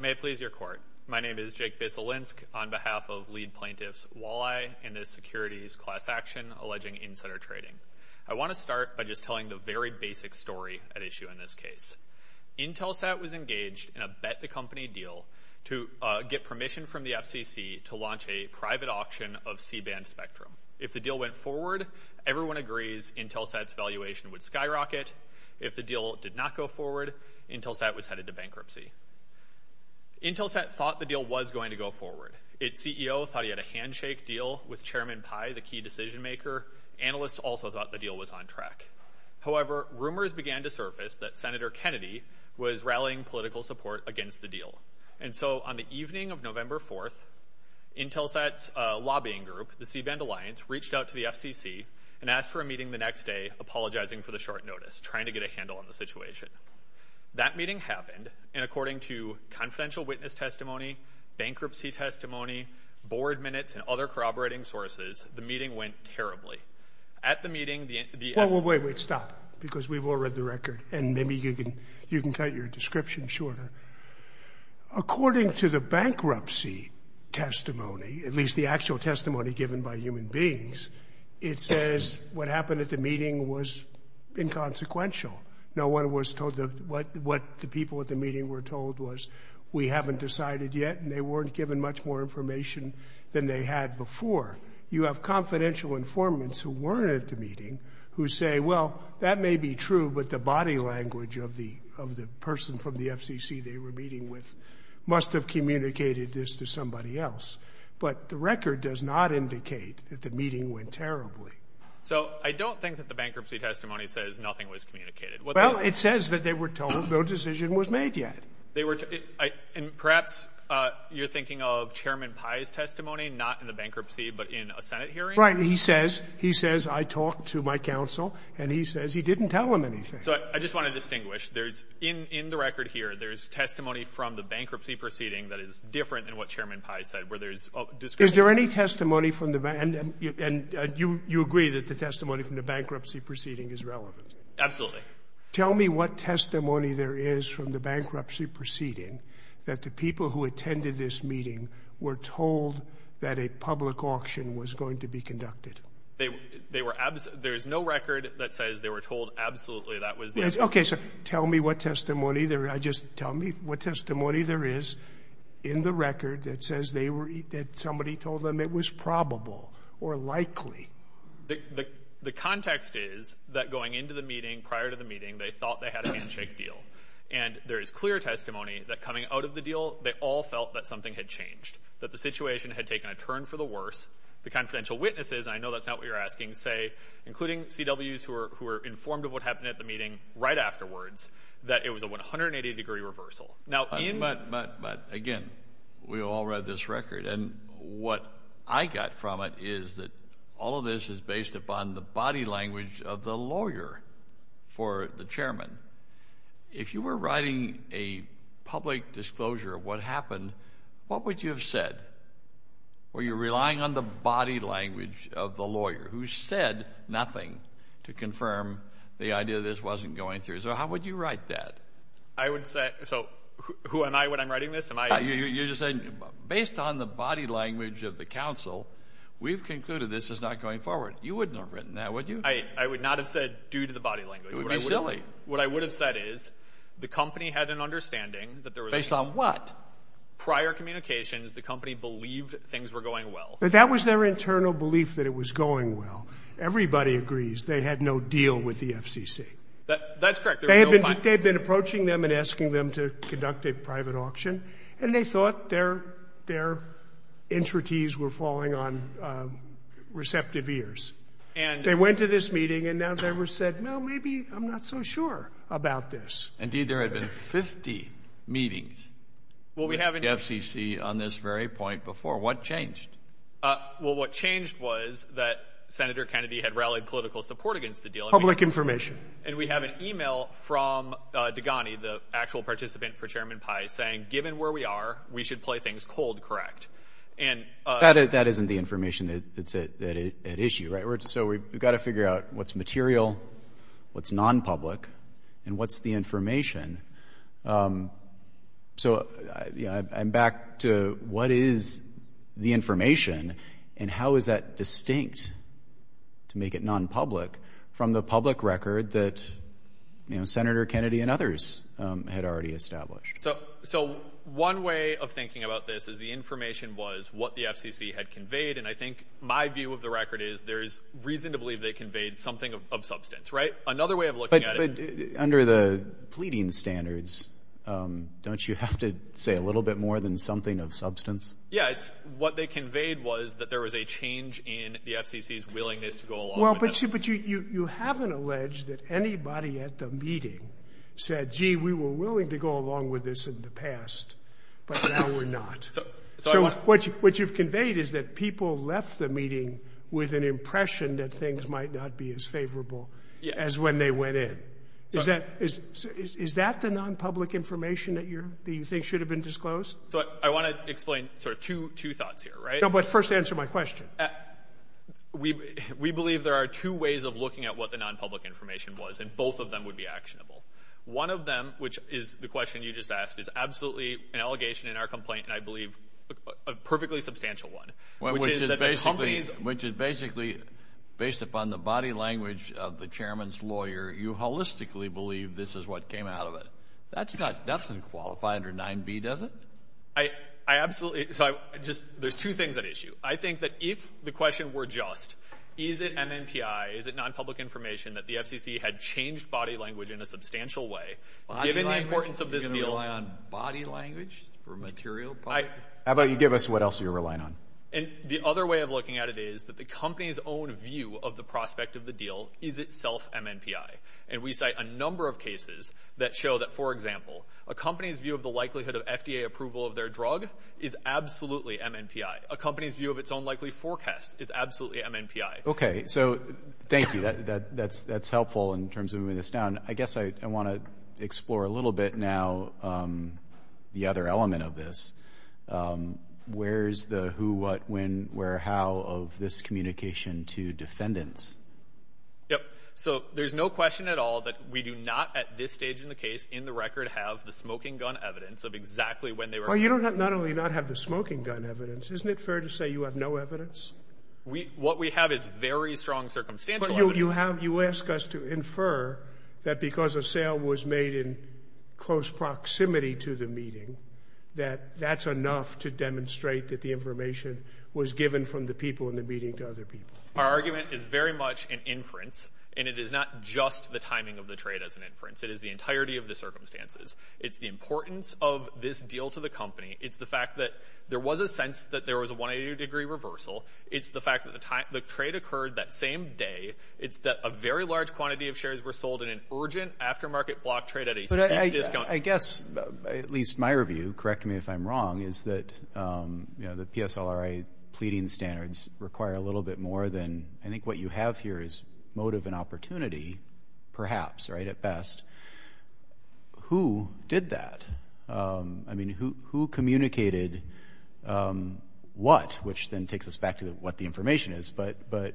May it please your court. My name is Jake Basilinsk on behalf of lead plaintiffs Walleye and the securities class action alleging insider trading. I want to start by just telling the very basic story at issue in this case. IntelSat was engaged in a bet the company deal to get permission from the FCC to launch a private auction of C-band spectrum. If the deal went forward, everyone agrees IntelSat's valuation would skyrocket. If the deal did not go forward, IntelSat was headed to bankruptcy. IntelSat thought the deal was going to go forward. Its CEO thought he had a handshake deal with Chairman Pai, the key decision maker. Analysts also thought the deal was on track. However, rumors began to surface that Senator Kennedy was rallying political support against the deal. And so on the evening of November 4th, IntelSat's lobbying group, the C-band alliance, reached out to the FCC and asked for a meeting the next day, apologizing for the short notice, trying to get a handle on the situation. That meeting happened, and according to confidential witness testimony, bankruptcy testimony, board minutes, and other corroborating sources, the meeting went terribly. At the meeting, the- Well, wait, wait, stop, because we've all read the record, and maybe you can cut your description shorter. According to the bankruptcy testimony, at least the actual testimony given by human beings, it says what happened at the meeting was inconsequential. No one was told what the people at the meeting were told was we haven't decided yet, and they weren't given much more information than they had before. You have confidential informants who weren't at the meeting who say, well, that may be true, but the body language of the person from the FCC they were meeting with must have communicated this to somebody else. But the record does not indicate that the meeting went terribly. So I don't think that the bankruptcy testimony says nothing was communicated. Well, it says that they were told no decision was made yet. They were, and perhaps you're thinking of Chairman Pai's testimony, not in the bankruptcy, but in a Senate hearing. Right. He says, he says I talked to my counsel, and he says he didn't tell him anything. So I just want to distinguish. There's, in the record here, there's testimony from the bankruptcy proceeding that is different than what Chairman Pai said, where there's discussion. Is there any testimony from the, and you agree that the testimony from the bankruptcy proceeding is relevant? Absolutely. Tell me what testimony there is from the bankruptcy proceeding that the people who attended this meeting were told that a public auction was going to be conducted. They were, there's no record that says they were told absolutely that was. Okay, so tell me what testimony there, just tell me what testimony there is in the record that says they were, that somebody told them it was probable or likely. The, the, the context is that going into the meeting, prior to the meeting, they thought they had a handshake deal. And there is clear testimony that coming out of the deal, they all felt that something had changed, that the situation had taken a turn for the worse. The confidential witnesses, and I know that's not what you're asking, say, including CWs who were, who were informed of what happened at the meeting right afterwards, that it was a 180-degree reversal. Now, but, but, but again, we all read this record, and what I got from it is that all of this is based upon the body language of the lawyer for the chairman. If you were writing a public disclosure of what happened, what would you have said? Were you relying on the body language of the lawyer who said nothing to confirm the idea this wasn't going through? So how would you write that? I would say, so who am I when I'm writing this? Am I? You're just saying, based on the body language of the counsel, we've concluded this is not going forward. You wouldn't have written that, would you? I, I would not have said due to the body language. It would be silly. What I would have said is the company had an understanding that there was. Based on what? Prior communications, the company believed things were going well. That was their That's correct. They had been, they'd been approaching them and asking them to conduct a private auction, and they thought their, their entreties were falling on receptive ears. And they went to this meeting, and now they were said, no, maybe I'm not so sure about this. Indeed, there had been 50 meetings with the FCC on this very point before. What changed? Well, what changed was that Senator Kennedy had rallied political support against the deal. Public information. And we have an email from Degani, the actual participant for Chairman Pai, saying, given where we are, we should play things cold, correct? And That isn't the information that's at issue, right? So we've got to figure out what's material, what's non-public, and what's the information. So I'm back to what is the information, and how is that distinct, to make it non-public, from the public record that, you know, Senator Kennedy and others had already established? So, so one way of thinking about this is the information was what the FCC had conveyed. And I think my view of the record is there's reason to believe they conveyed something of substance, right? Another way of looking at it. But under the pleading standards, don't you have to say a little bit more than something of substance? Yeah, it's what they conveyed was that there was a change in the FCC's willingness to go along. Well, but you haven't alleged that anybody at the meeting said, gee, we were willing to go along with this in the past, but now we're not. So what you've conveyed is that people left the meeting with an impression that things might not be as favorable as when they went in. Is that the non-public information that you're, that you think should have been disclosed? So I want to explain sort of two, two thoughts here, right? No, but first answer my question. We, we believe there are two ways of looking at what the non-public information was, and both of them would be actionable. One of them, which is the question you just asked, is absolutely an allegation in our complaint, and I believe a perfectly substantial one. Which is basically, based upon the body language of the chairman's lawyer, you holistically believe this is what came out of it. That's not, doesn't qualify under 9b, does it? I, I absolutely, so I just, there's two things at issue. I think that if the question were just, is it MMPI, is it non-public information that the FCC had changed body language in a substantial way, given the importance of this deal? You're going to rely on body language for material part? How about you give us what else you're relying on? And the other way of looking at it is that the company's own view of the prospect of the deal is itself MMPI, and we cite a number of cases that show that, for example, a company's view of the likelihood of FDA approval of their drug is absolutely MMPI. A company's view of its own likely forecast is absolutely MMPI. Okay, so thank you. That, that's, that's helpful in terms of moving this down. I guess I want to explore a little bit now the other element of this. Where's the who, what, when, where, how of this communication to defendants? Yep, so there's no question at all that we do not, at this stage in the case, in the record, have the smoking gun evidence of exactly when they were. Well, you don't have, not only not have the smoking gun evidence, isn't it fair to say you have no evidence? We, what we have is very strong circumstantial evidence. You have, you ask us to infer that because a sale was made in close proximity to the meeting, that that's enough to demonstrate that the information was given from the people in the meeting to other people. Our argument is very much an inference, and it is not just the timing of the trade as an inference. It is the entirety of the circumstances. It's the importance of this deal to the company. It's the fact that there was a sense that there was a 180 degree reversal. It's the fact that the time, the trade occurred that same day. It's that a very large quantity of shares were sold in an urgent aftermarket block trade at a discount. I guess, at least my review, correct me if I'm wrong, is that, you know, the PSLRA pleading standards require a little bit more than, I think what you have here is motive and opportunity, perhaps, right, at best. Who did that? I mean, who communicated what? Which then takes us back to what the information is. But, but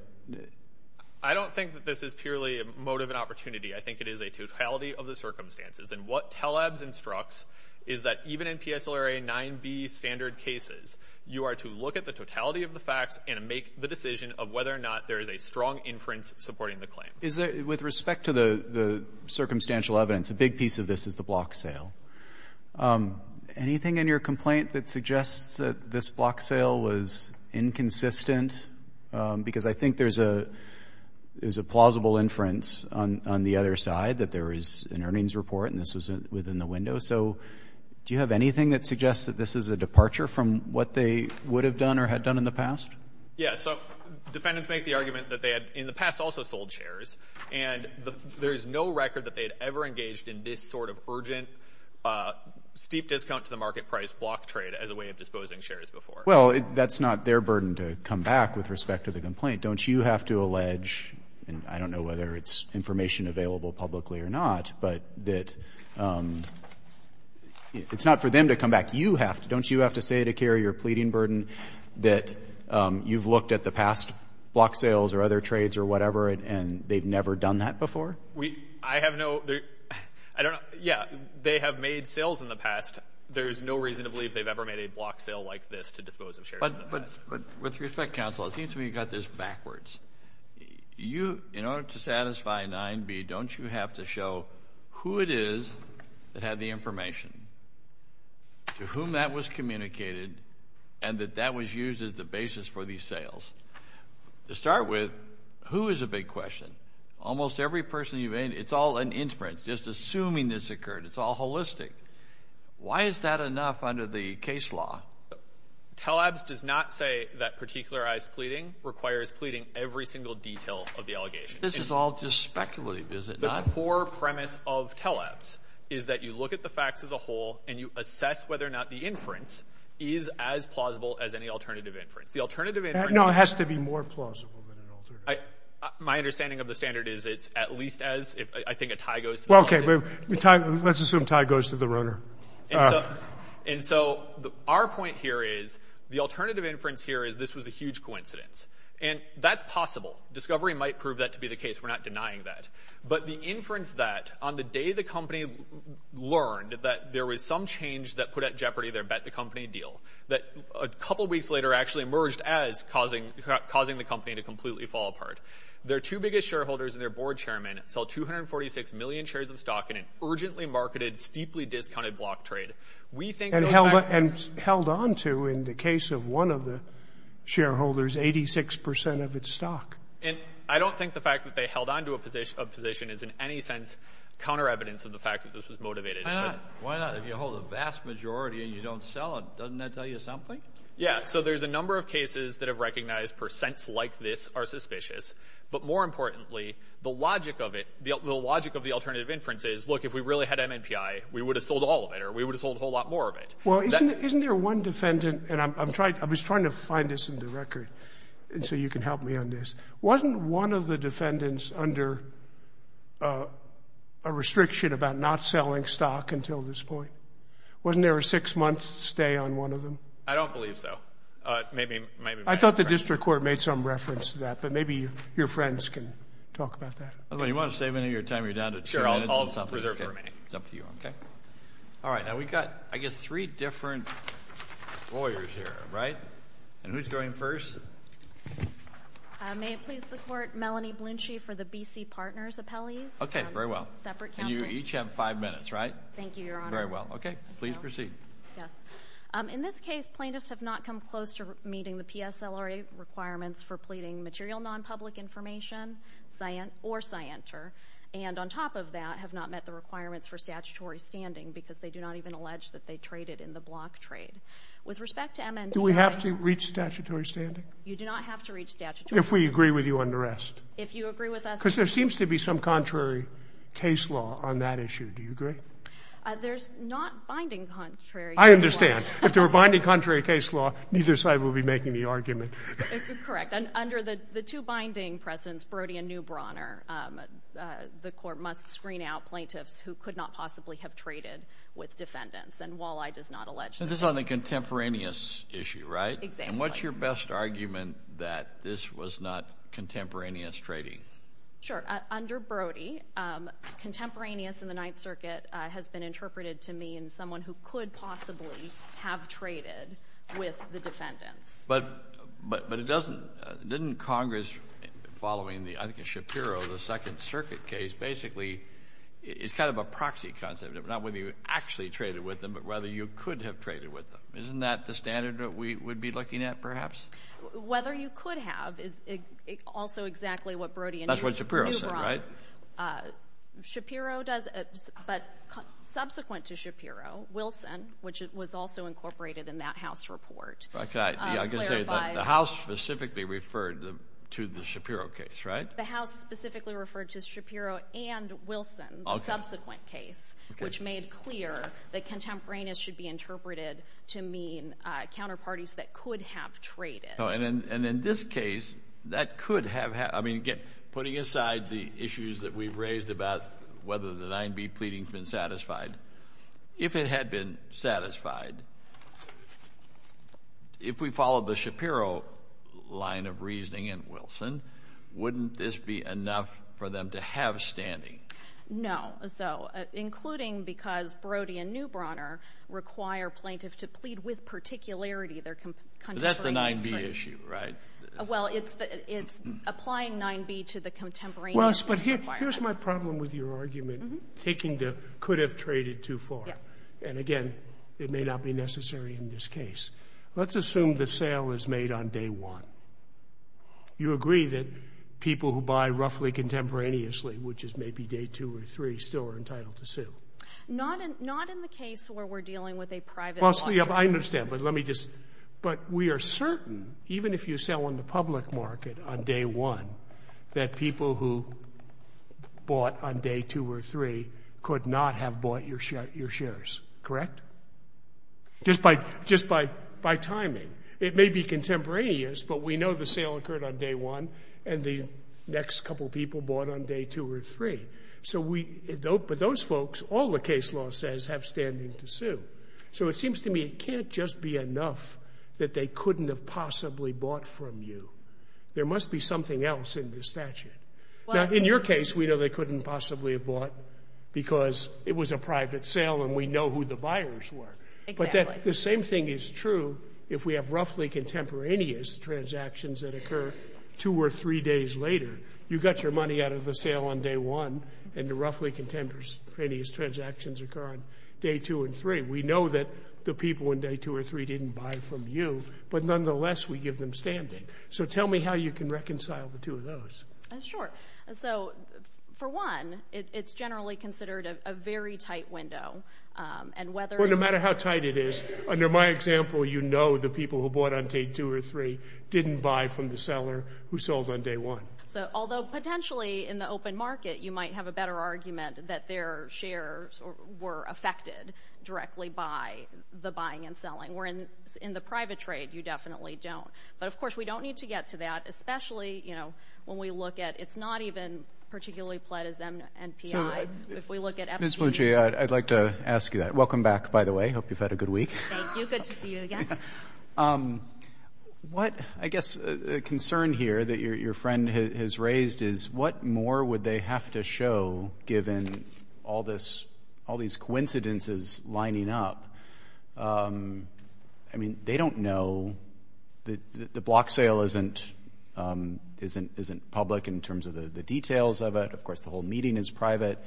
I don't think that this is purely a motive and opportunity. I think it is a totality of the circumstances. And what TELEBS instructs is that even in PSLRA 9b standard cases, you are to look at the totality of the facts and make the decision of whether or not there is a strong inference supporting the claim. Is there, with respect to the circumstantial evidence, a big piece of this is the block sale. Anything in your complaint that suggests that this block sale was inconsistent? Because I think there's a plausible inference on the other side that there is an earnings report and this was within the window. So do you have anything that suggests that this is a departure from what they would have done or had done in the past? Yeah. So defendants make the argument that they had in the past also sold shares and there is no record that they had ever engaged in this sort of urgent, steep discount to the market price block trade as a way of disposing shares before. Well, that's not their burden to come back with respect to the complaint. Don't you have to allege, and I don't know whether it's information available publicly or not, but that it's not for them to come back. You have to, don't you have to say to carry your pleading burden that you've looked at the past block sales or other trades or whatever and they've never done that before? I have no, I don't know. Yeah, they have made sales in the past. There's no reason to believe they've ever made a block sale like this to dispose of shares in the past. But with respect, counsel, it seems to me you've got this backwards. In order to satisfy 9b, don't you have to show who it is that had the information, to whom that was communicated, and that that was used as the basis for these sales? To start with, who is a big question? Almost every person you've interviewed, it's all an inference, just assuming this occurred. It's all holistic. Why is that enough under the case law? Telabs does not say that particularized pleading requires pleading every single detail of the allegations. This is all just speculative, is it not? The core premise of Telabs is that you look at the facts as a whole and you assess whether or not the inference is as plausible as any alternative inference. The alternative inference— No, it has to be more plausible than an alternative. My understanding of the standard is it's at least as— I think a tie goes to— Well, okay, let's assume a tie goes to the runner. And so our point here is the alternative inference here is this was a huge coincidence. And that's possible. Discovery might prove that to be the case. We're not denying that. But the inference that on the day the company learned that there was some change that put at jeopardy their bet-the-company deal, that a couple weeks later actually emerged as causing the company to completely fall apart. Their two biggest shareholders and their board chairman sell 246 million shares of stock in an urgently marketed, steeply discounted block trade. We think— And held on to, in the case of one of the shareholders, 86 percent of its stock. And I don't think the fact that they held on to a position is in any sense counter-evidence of the fact that this was motivated. Why not? If you hold a vast majority and you don't sell it, doesn't that tell you something? Yeah. So there's a number of cases that have recognized percents like this are suspicious. But more importantly, the logic of it, the logic of the alternative inference is, look, if we really had MMPI, we would have sold all of it, or we would have sold a whole lot more of it. Well, isn't there one defendant— I was trying to find this in the record so you can help me on this. Wasn't one of the defendants under a restriction about not selling stock until this point? Wasn't there a six-month stay on one of them? I don't believe so. I thought the district court made some reference to that, but maybe your friends can talk about that. You want to save any of your time? You're down to two minutes. Sure, I'll preserve the remaining. It's up to you, okay? All right. Now, we've got, I guess, three different lawyers here, right? And who's going first? May it please the Court, Melanie Blunschi for the B.C. Partners Appellees. Okay, very well. Separate counsel. And you each have five minutes, right? Thank you, Your Honor. Very well. Okay, please proceed. Yes. In this case, plaintiffs have not come close to meeting the PSLRA requirements for pleading material non-public information or scienter, and on top of that, have not met the requirements for statutory standing because they do not even allege that they traded in the block trade. With respect to MND... Do we have to reach statutory standing? You do not have to reach statutory standing. If we agree with you on the rest. If you agree with us... Because there seems to be some contrary case law on that issue. Do you agree? There's not binding contrary case law. I understand. If there were binding contrary case law, neither side would be making the argument. Correct. Under the two binding precedents, Brody and Neubrauner, the court must screen out plaintiffs who could not possibly have traded with defendants. And Walleye does not allege that. This is on the contemporaneous issue, right? Exactly. And what's your best argument that this was not contemporaneous trading? Sure. Under Brody, contemporaneous in the Ninth Circuit has been interpreted to mean someone who could possibly have traded with the defendants. But didn't Congress, following I think Shapiro, the Second Circuit case, basically... It's kind of a proxy concept of not whether you actually traded with them, but whether you could have traded with them. Isn't that the standard that we would be looking at, perhaps? Whether you could have is also exactly what Brody and Neubrauner... That's what Shapiro said, right? Shapiro does... But subsequent to Shapiro, Wilson, which was also incorporated in that House report... I can say that the House specifically referred to the Shapiro case, right? The House specifically referred to Shapiro and Wilson, the subsequent case, which made clear that contemporaneous should be interpreted to mean counterparties that could have traded. And in this case, that could have... Putting aside the issues that we've raised about whether the 9b pleading has been satisfied, if it had been satisfied, if we followed the Shapiro line of reasoning and Wilson, wouldn't this be enough for them to have standing? No. So, including because Brody and Neubrauner require plaintiffs to plead with particularity their contemporaneous... That's the 9b issue, right? Well, it's applying 9b to the contemporaneous... Well, but here's my problem with your argument, taking the could have traded too far. And again, it may not be necessary in this case. Let's assume the sale is made on day one. You agree that people who buy roughly contemporaneously, which is maybe day two or three, still are entitled to sue? Not in the case where we're dealing with a private law firm. Well, I understand, but let me just... But we are certain, even if you sell on the public market on day one, that people who bought on day two or three could not have bought your shares, correct? Just by timing. It may be contemporaneous, but we know the sale occurred on day one and the next couple of people bought on day two or three. So, those folks, all the case law says have standing to sue. So, it seems to me it can't just be enough that they couldn't have possibly bought from you. There must be something else in the statute. Now, in your case, we know they couldn't possibly have bought because it was a private sale and we know who the buyers were. But the same thing is true if we have roughly contemporaneous transactions that occur two or three days later. You got your money out of the sale on day one and the roughly contemporaneous transactions occur on day two and three. We know that the people on day two or three didn't buy from you, but nonetheless, we give them standing. So, tell me how you can reconcile the two of those. Sure. So, for one, it's generally considered a very tight window. No matter how tight it is, under my example, you know the people who bought on day two or three didn't buy from the seller who sold on day one. So, although potentially in the open market, you might have a better argument that their shares were affected directly by the buying and selling, whereas in the private trade, you definitely don't. But of course, we don't need to get to that, especially, you know, when we look at, it's not even particularly pledged as MNPI. If we look at... Ms. Lucci, I'd like to ask you that. Welcome back, by the way. Hope you've had a good week. Thank you. Good to see you again. What, I guess, a concern here that your friend has raised is what more would they have to show given all these coincidences lining up? I mean, they don't know. The block sale isn't public in terms of the details of it. Of course, the whole meeting is private.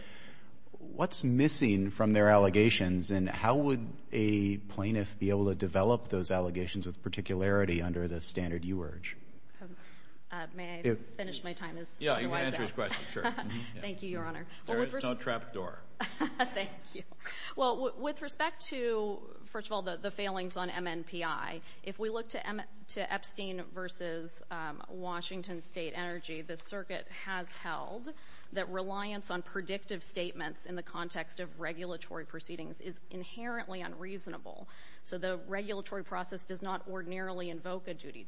What's missing from their allegations and how would a plaintiff be able to develop those allegations with particularity under the standard you urge? May I finish my time as... Yeah, you can answer his question, sure. Thank you, Your Honor. There is no trap door. Thank you. Well, with respect to, first of all, the failings on MNPI, if we look to Epstein versus Washington State Energy, the circuit has held that reliance on predictive statements in the context of regulatory proceedings is inherently unreasonable. So the regulatory process does not ordinarily invoke a duty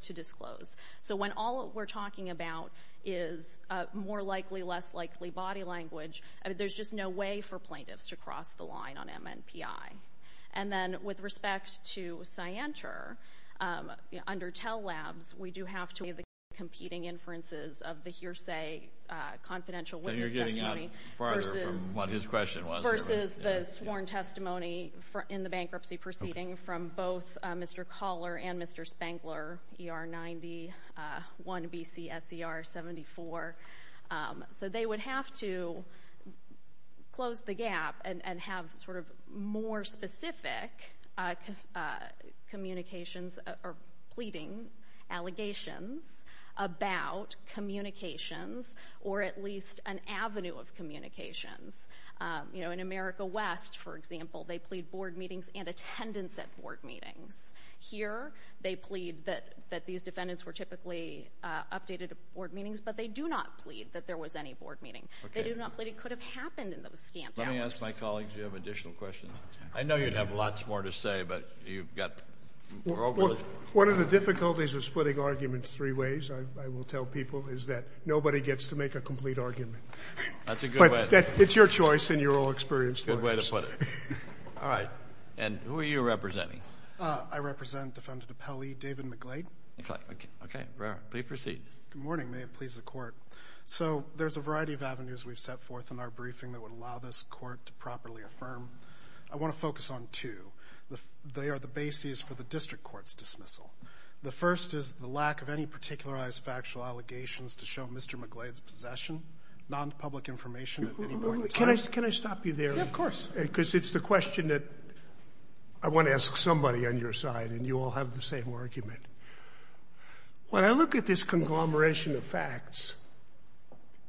to disclose. So when all we're talking about is more likely, less likely body language, there's just no way for plaintiffs to cross the line on MNPI. And then with respect to Scienter, under Tell Labs, we do have to have the competing inferences of the hearsay confidential witness testimony... And you're getting out farther from what his question was. Versus the sworn testimony in the bankruptcy proceeding from both Mr. Coller and Mr. Spengler, ER-91, BCSER-74. So they would have to close the gap and have sort of more specific communications or pleading allegations about communications or at least an avenue of communications. You know, in America West, for example, they plead board meetings and attendance at board meetings. Here, they plead that these defendants were typically updated at board meetings, but they do not plead that there was any board meeting. They do not plead it could have happened in those scant hours. Let me ask my colleagues if you have additional questions. I know you'd have lots more to say, but you've got... One of the difficulties with splitting arguments three ways, I will tell people, is that nobody gets to make a complete argument. That's a good way. It's your choice and you're all experienced lawyers. Good way to put it. All right. And who are you representing? I represent Defendant Appelli, David McLean. Okay, please proceed. Good morning, may it please the court. So there's a variety of avenues we've set forth in our briefing that would allow this court to properly affirm. I want to focus on two. They are the basis for the district court's dismissal. The first is the lack of any particularized factual allegations to show Mr. McLean's possession, non-public information at any point in time. Can I stop you there? Yeah, of course. Because it's the question that I want to ask somebody on your side, When I look at this conglomeration of facts,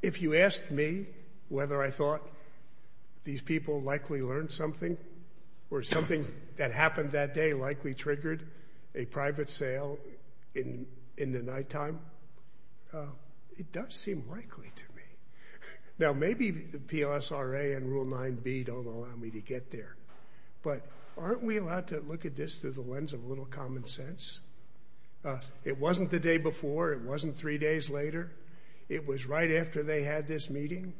if you asked me whether I thought these people likely learned something or something that happened that day likely triggered a private sale in the nighttime, it does seem likely to me. Now, maybe the PLSRA and Rule 9b don't allow me to get there. But aren't we allowed to look at this through the lens of a little common sense? It wasn't the day before. It wasn't three days later. It was right after they had this meeting.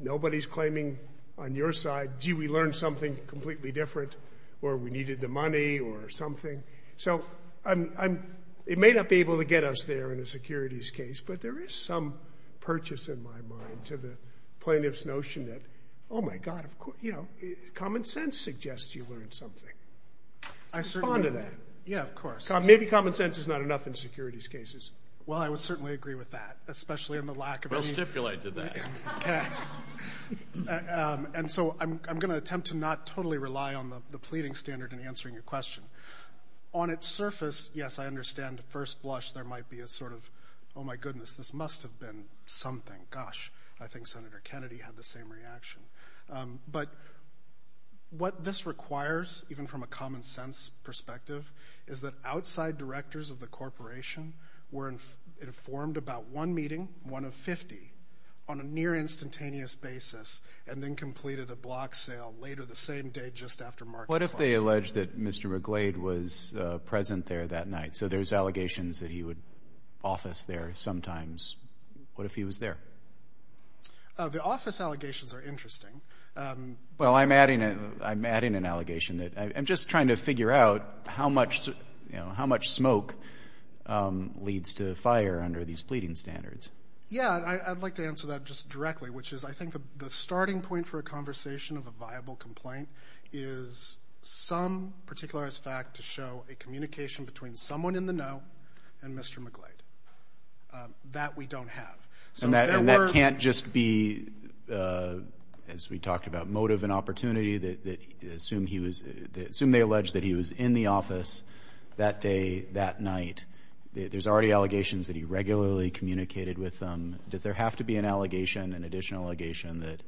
Nobody's claiming on your side, gee, we learned something completely different, or we needed the money or something. So it may not be able to get us there in a securities case, but there is some purchase in my mind to the plaintiff's notion that, oh my God, of course, you know, common sense suggests you learned something. I certainly know that. Respond to that. Yeah, of course. Maybe common sense is not enough in securities cases. Well, I would certainly agree with that. Well, stipulate to that. And so I'm going to attempt to not totally rely on the pleading standard in answering your question. On its surface, yes, I understand first blush, there might be a sort of, oh my goodness, this must have been something. Gosh, I think Senator Kennedy had the same reaction. But what this requires, even from a common sense perspective, is that outside directors of the corporation were informed about one meeting, one of 50, on a near instantaneous basis, and then completed a block sale later the same day, just after market flush. What if they allege that Mr. McGlade was present there that night? So there's allegations that he would office there sometimes. What if he was there? The office allegations are interesting. Well, I'm adding an allegation that I'm just trying to figure out how much smoke leads to fire under these pleading standards. Yeah, I'd like to answer that just directly, which is I think the starting point for a conversation of a viable complaint is some particularized fact to show a communication between someone in the know and Mr. McGlade. That we don't have. And that can't just be, as we talked about, motive and opportunity that assume they allege that he was in the office that day, that night. There's already allegations that he regularly communicated with them. Does there have to be an allegation, an additional allegation,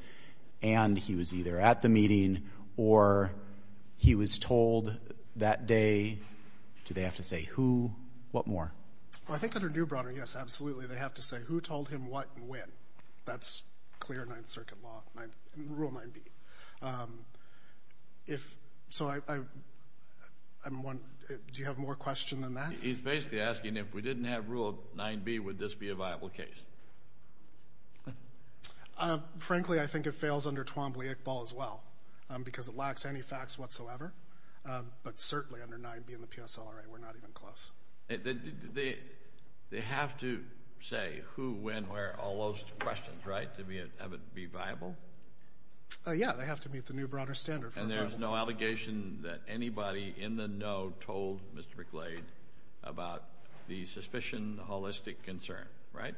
and he was either at the meeting or he was told that day? Do they have to say who, what more? Well, I think under New Bronner, yes, absolutely. They have to say who told him what and when. That's clear Ninth Circuit law, rule 9b. If, so I, I'm one, do you have more question than that? He's basically asking if we didn't have rule 9b, would this be a viable case? Frankly, I think it fails under Twombly-Iqbal as well, because it lacks any facts whatsoever. But certainly under 9b and the PSLRA, we're not even close. They have to say who, when, where, all those questions, right? To be, have it be viable? Uh, yeah, they have to meet the New Bronner standard. And there's no allegation that anybody in the know told Mr. McGlade about the suspicion, the holistic concern, right?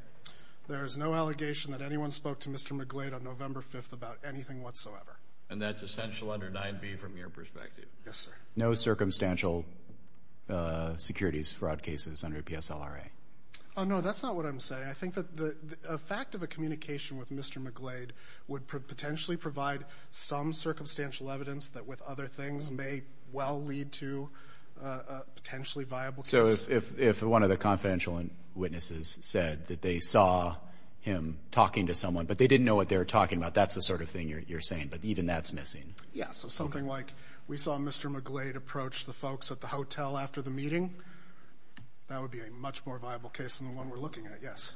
There is no allegation that anyone spoke to Mr. McGlade on November 5th about anything whatsoever. And that's essential under 9b from your perspective? Yes, sir. No circumstantial, uh, securities fraud cases under PSLRA. Oh, no, that's not what I'm saying. I think that the, the fact of a communication with Mr. McGlade would potentially provide some circumstantial evidence that with other things may well lead to a potentially viable case. So if, if, if one of the confidential witnesses said that they saw him talking to someone, but they didn't know what they were talking about, that's the sort of thing you're, you're saying, but even that's missing. Yeah, so something like, we saw Mr. McGlade approach the folks at the hotel after the meeting. That would be a much more viable case than the one we're looking at. Yes.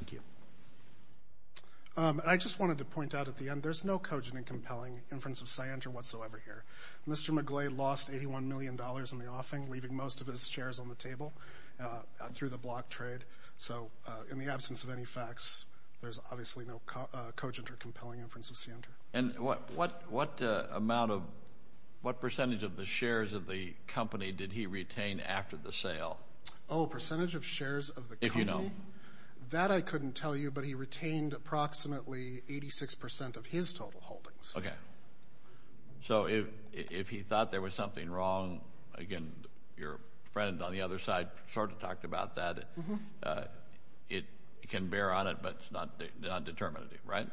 Um, and I just wanted to point out at the end, there's no cogent and compelling inference of scienter whatsoever here. Mr. McGlade lost $81 million in the offing, leaving most of his shares on the table, uh, through the block trade. So, uh, in the absence of any facts, there's obviously no, uh, cogent or compelling inference of scienter. And what, what, what, uh, amount of, what percentage of the shares of the company did he retain after the sale? Oh, percentage of shares of the company? If you know. That I couldn't tell you, but he retained approximately 86% of his total holdings. Okay. So if, if he thought there was something wrong, again, your friend on the other side sort of talked about that, uh, it can bear on it, but it's not, not determinative, right?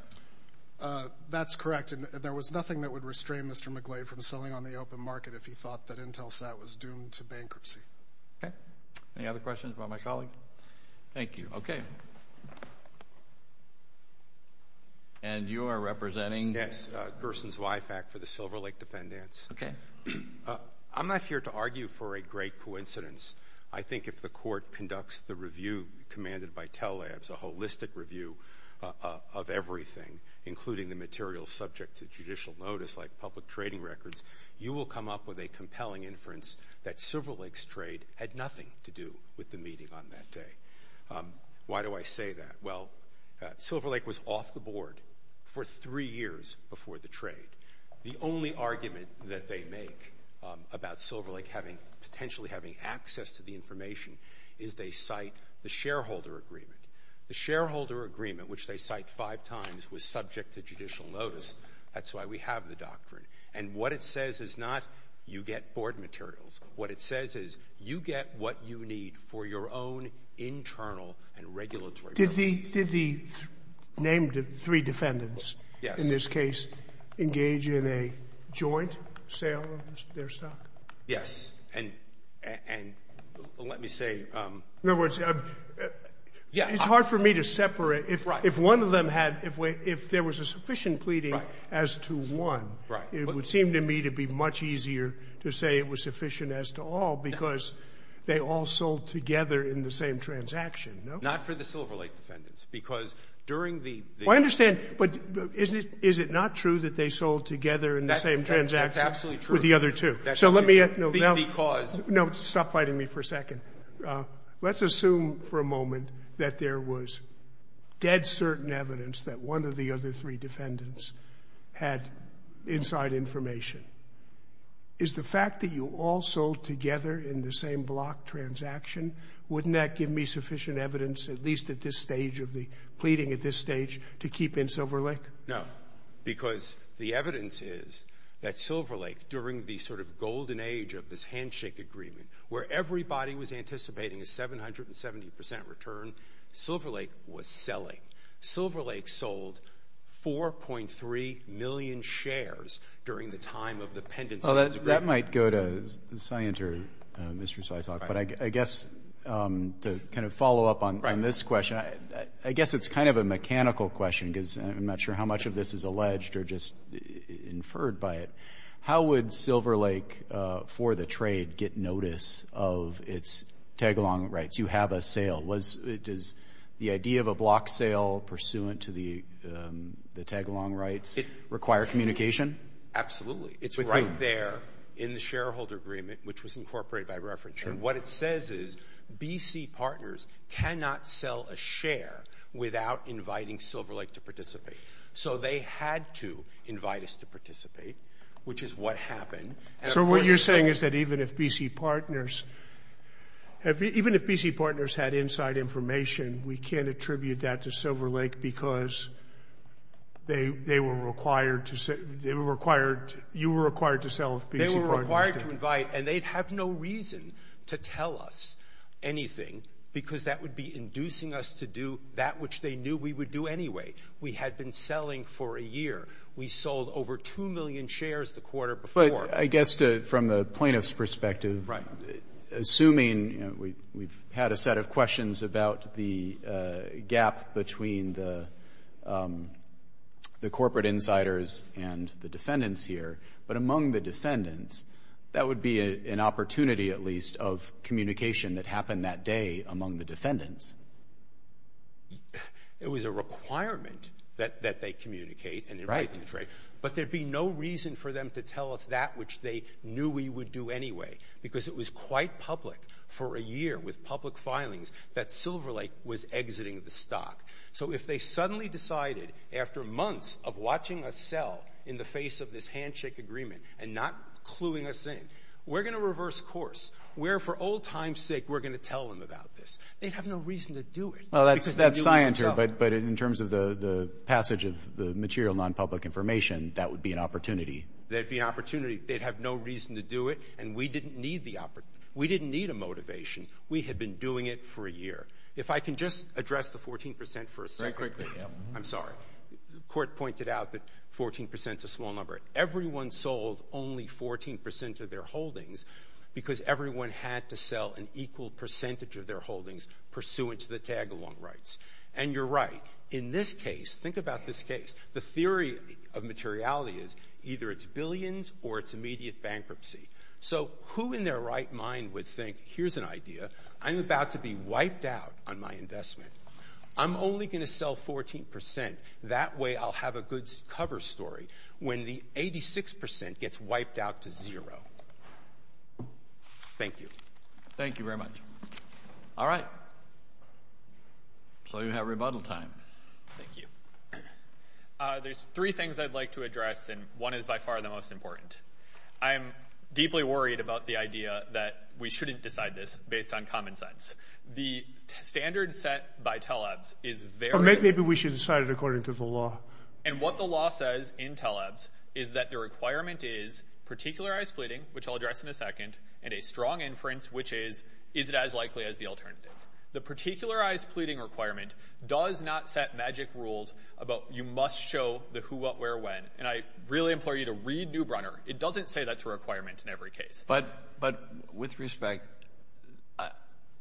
Uh, that's correct. And there was nothing that would restrain Mr. McGlade from selling on the open market if he thought that IntelSat was doomed to bankruptcy. Okay. Any other questions about my colleague? Thank you. Okay. And you are representing? Yes, uh, Gerson Zweifack for the Silver Lake Defendants. Okay. I'm not here to argue for a great coincidence. I think if the court conducts the review commanded by Tell Labs, a holistic review of everything, including the material subject to judicial notice, like public trading records, you will come up with a compelling inference that Silver Lake's trade had nothing to do with the meeting on that day. Um, why do I say that? Well, uh, Silver Lake was off the board for three years before the trade. The only argument that they make, um, about Silver Lake having, potentially having access to the information is they cite the shareholder agreement. The shareholder agreement, which they cite five times, was subject to judicial notice. That's why we have the doctrine. And what it says is not you get board materials. What it says is you get what you need for your own internal and regulatory purposes. Did the named three defendants in this case engage in a joint sale of their stock? Yes. And let me say, um. In other words, it's hard for me to separate if one of them had, if there was a sufficient Right. As to one. Right. It would seem to me to be much easier to say it was sufficient as to all because they all sold together in the same transaction, no? Not for the Silver Lake defendants. Because during the. I understand. But is it not true that they sold together in the same transaction? That's absolutely true. With the other two. So let me. Because. No, stop fighting me for a second. Let's assume for a moment that there was dead certain evidence that one of the other defendants had inside information. Is the fact that you all sold together in the same block transaction, wouldn't that give me sufficient evidence, at least at this stage of the pleading at this stage, to keep in Silver Lake? No. Because the evidence is that Silver Lake, during the sort of golden age of this handshake agreement, where everybody was anticipating a 770 percent return, Silver Lake was selling. Silver Lake sold 4.3 million shares during the time of the pendency. Well, that might go to Scienter, Mr. Svitoff. But I guess to kind of follow up on this question, I guess it's kind of a mechanical question because I'm not sure how much of this is alleged or just inferred by it. How would Silver Lake for the trade get notice of its tagalong rights? You have a sale. Does the idea of a block sale pursuant to the tagalong rights require communication? Absolutely. It's right there in the shareholder agreement, which was incorporated by reference. And what it says is BC partners cannot sell a share without inviting Silver Lake to participate. So they had to invite us to participate, which is what happened. So what you're saying is that even if BC partners had inside information, we can't attribute that to Silver Lake because you were required to sell if BC partners did? They were required to invite. And they'd have no reason to tell us anything because that would be inducing us to do that which they knew we would do anyway. We had been selling for a year. We sold over 2 million shares the quarter before. From the plaintiff's perspective, assuming we've had a set of questions about the gap between the corporate insiders and the defendants here, but among the defendants, that would be an opportunity at least of communication that happened that day among the defendants. It was a requirement that they communicate and invite to the trade. But there'd be no reason for them to tell us that which they knew we would do anyway because it was quite public for a year with public filings that Silver Lake was exiting the stock. So if they suddenly decided after months of watching us sell in the face of this handshake agreement and not cluing us in, we're going to reverse course. We're, for old times' sake, we're going to tell them about this. They'd have no reason to do it. That's scienter, but in terms of the passage of the material nonpublic information, that would be an opportunity. That'd be an opportunity. They'd have no reason to do it. And we didn't need the opportunity. We didn't need a motivation. We had been doing it for a year. If I can just address the 14 percent for a second. Very quickly, yeah. I'm sorry. Court pointed out that 14 percent is a small number. Everyone sold only 14 percent of their holdings because everyone had to sell an equal percentage of their holdings pursuant to the tagalong rights. And you're right. In this case, think about this case. The theory of materiality is either it's billions or it's immediate bankruptcy. So who in their right mind would think, here's an idea. I'm about to be wiped out on my investment. I'm only going to sell 14 percent. That way I'll have a good cover story when the 86 percent gets wiped out to zero. Thank you. Thank you very much. All right. So you have rebuttal time. Thank you. There's three things I'd like to address, and one is by far the most important. I'm deeply worried about the idea that we shouldn't decide this based on common sense. The standard set by TELEBS is very— Or maybe we should decide it according to the law. And what the law says in TELEBS is that the requirement is particularized splitting, which I'll address in a second, and a strong inference, which is, is it as likely as the alternative? The particularized pleading requirement does not set magic rules about you must show the who, what, where, when. And I really implore you to read New Brunner. It doesn't say that's a requirement in every case. But with respect,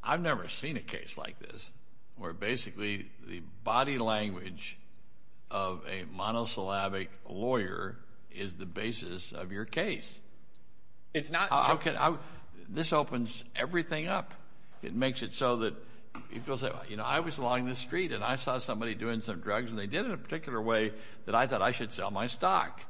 I've never seen a case like this where basically the body language of a monosyllabic lawyer is the basis of your case. It's not— This opens everything up. It makes it so that people say, well, you know, I was along the street, and I saw somebody doing some drugs, and they did it a particular way that I thought I should sell my stock.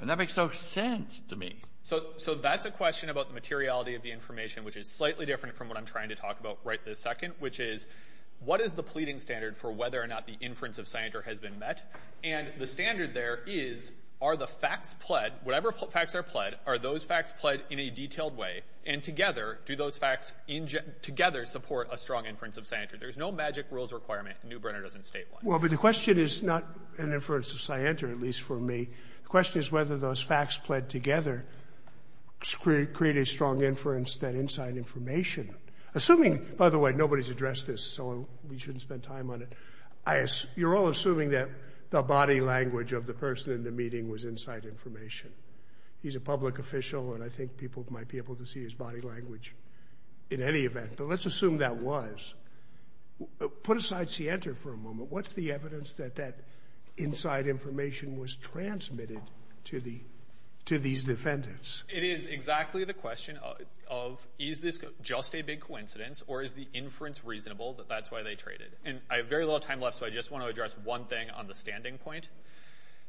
And that makes no sense to me. So that's a question about the materiality of the information, which is slightly different from what I'm trying to talk about right this second, which is, what is the pleading standard for whether or not the inference of Sanger has been met? And the standard there is, are the facts pled— And together, do those facts together support a strong inference of Sanger? There's no magic rules requirement. New Brunner doesn't state one. Well, but the question is not an inference of Sanger, at least for me. The question is whether those facts pled together create a strong inference that inside information— Assuming— By the way, nobody's addressed this, so we shouldn't spend time on it. You're all assuming that the body language of the person in the meeting was inside information. He's a public official, and I think people might be able to see his body language in any event, but let's assume that was. Put aside Sienta for a moment. What's the evidence that that inside information was transmitted to these defendants? It is exactly the question of, is this just a big coincidence, or is the inference reasonable that that's why they traded? And I have very little time left, so I just want to address one thing on the standing point.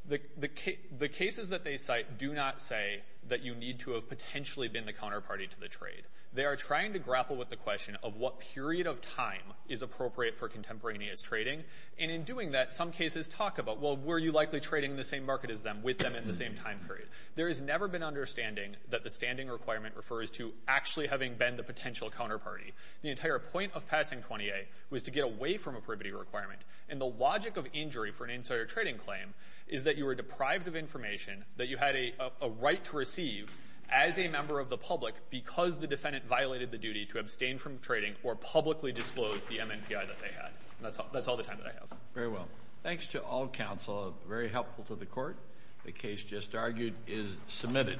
The cases that they cite do not say that you need to have potentially been the counterparty to the trade. They are trying to grapple with the question of what period of time is appropriate for contemporaneous trading, and in doing that, some cases talk about, well, were you likely trading in the same market as them, with them in the same time period? There has never been understanding that the standing requirement refers to actually having been the potential counterparty. The entire point of passing 20A was to get away from a privity requirement, and the logic of injury for an insider trading claim is that you were deprived of information that you had a right to receive as a member of the public because the defendant violated the duty to abstain from trading or publicly disclose the MMPI that they had. And that's all the time that I have. Very well. Thanks to all counsel. Very helpful to the court. The case just argued is submitted.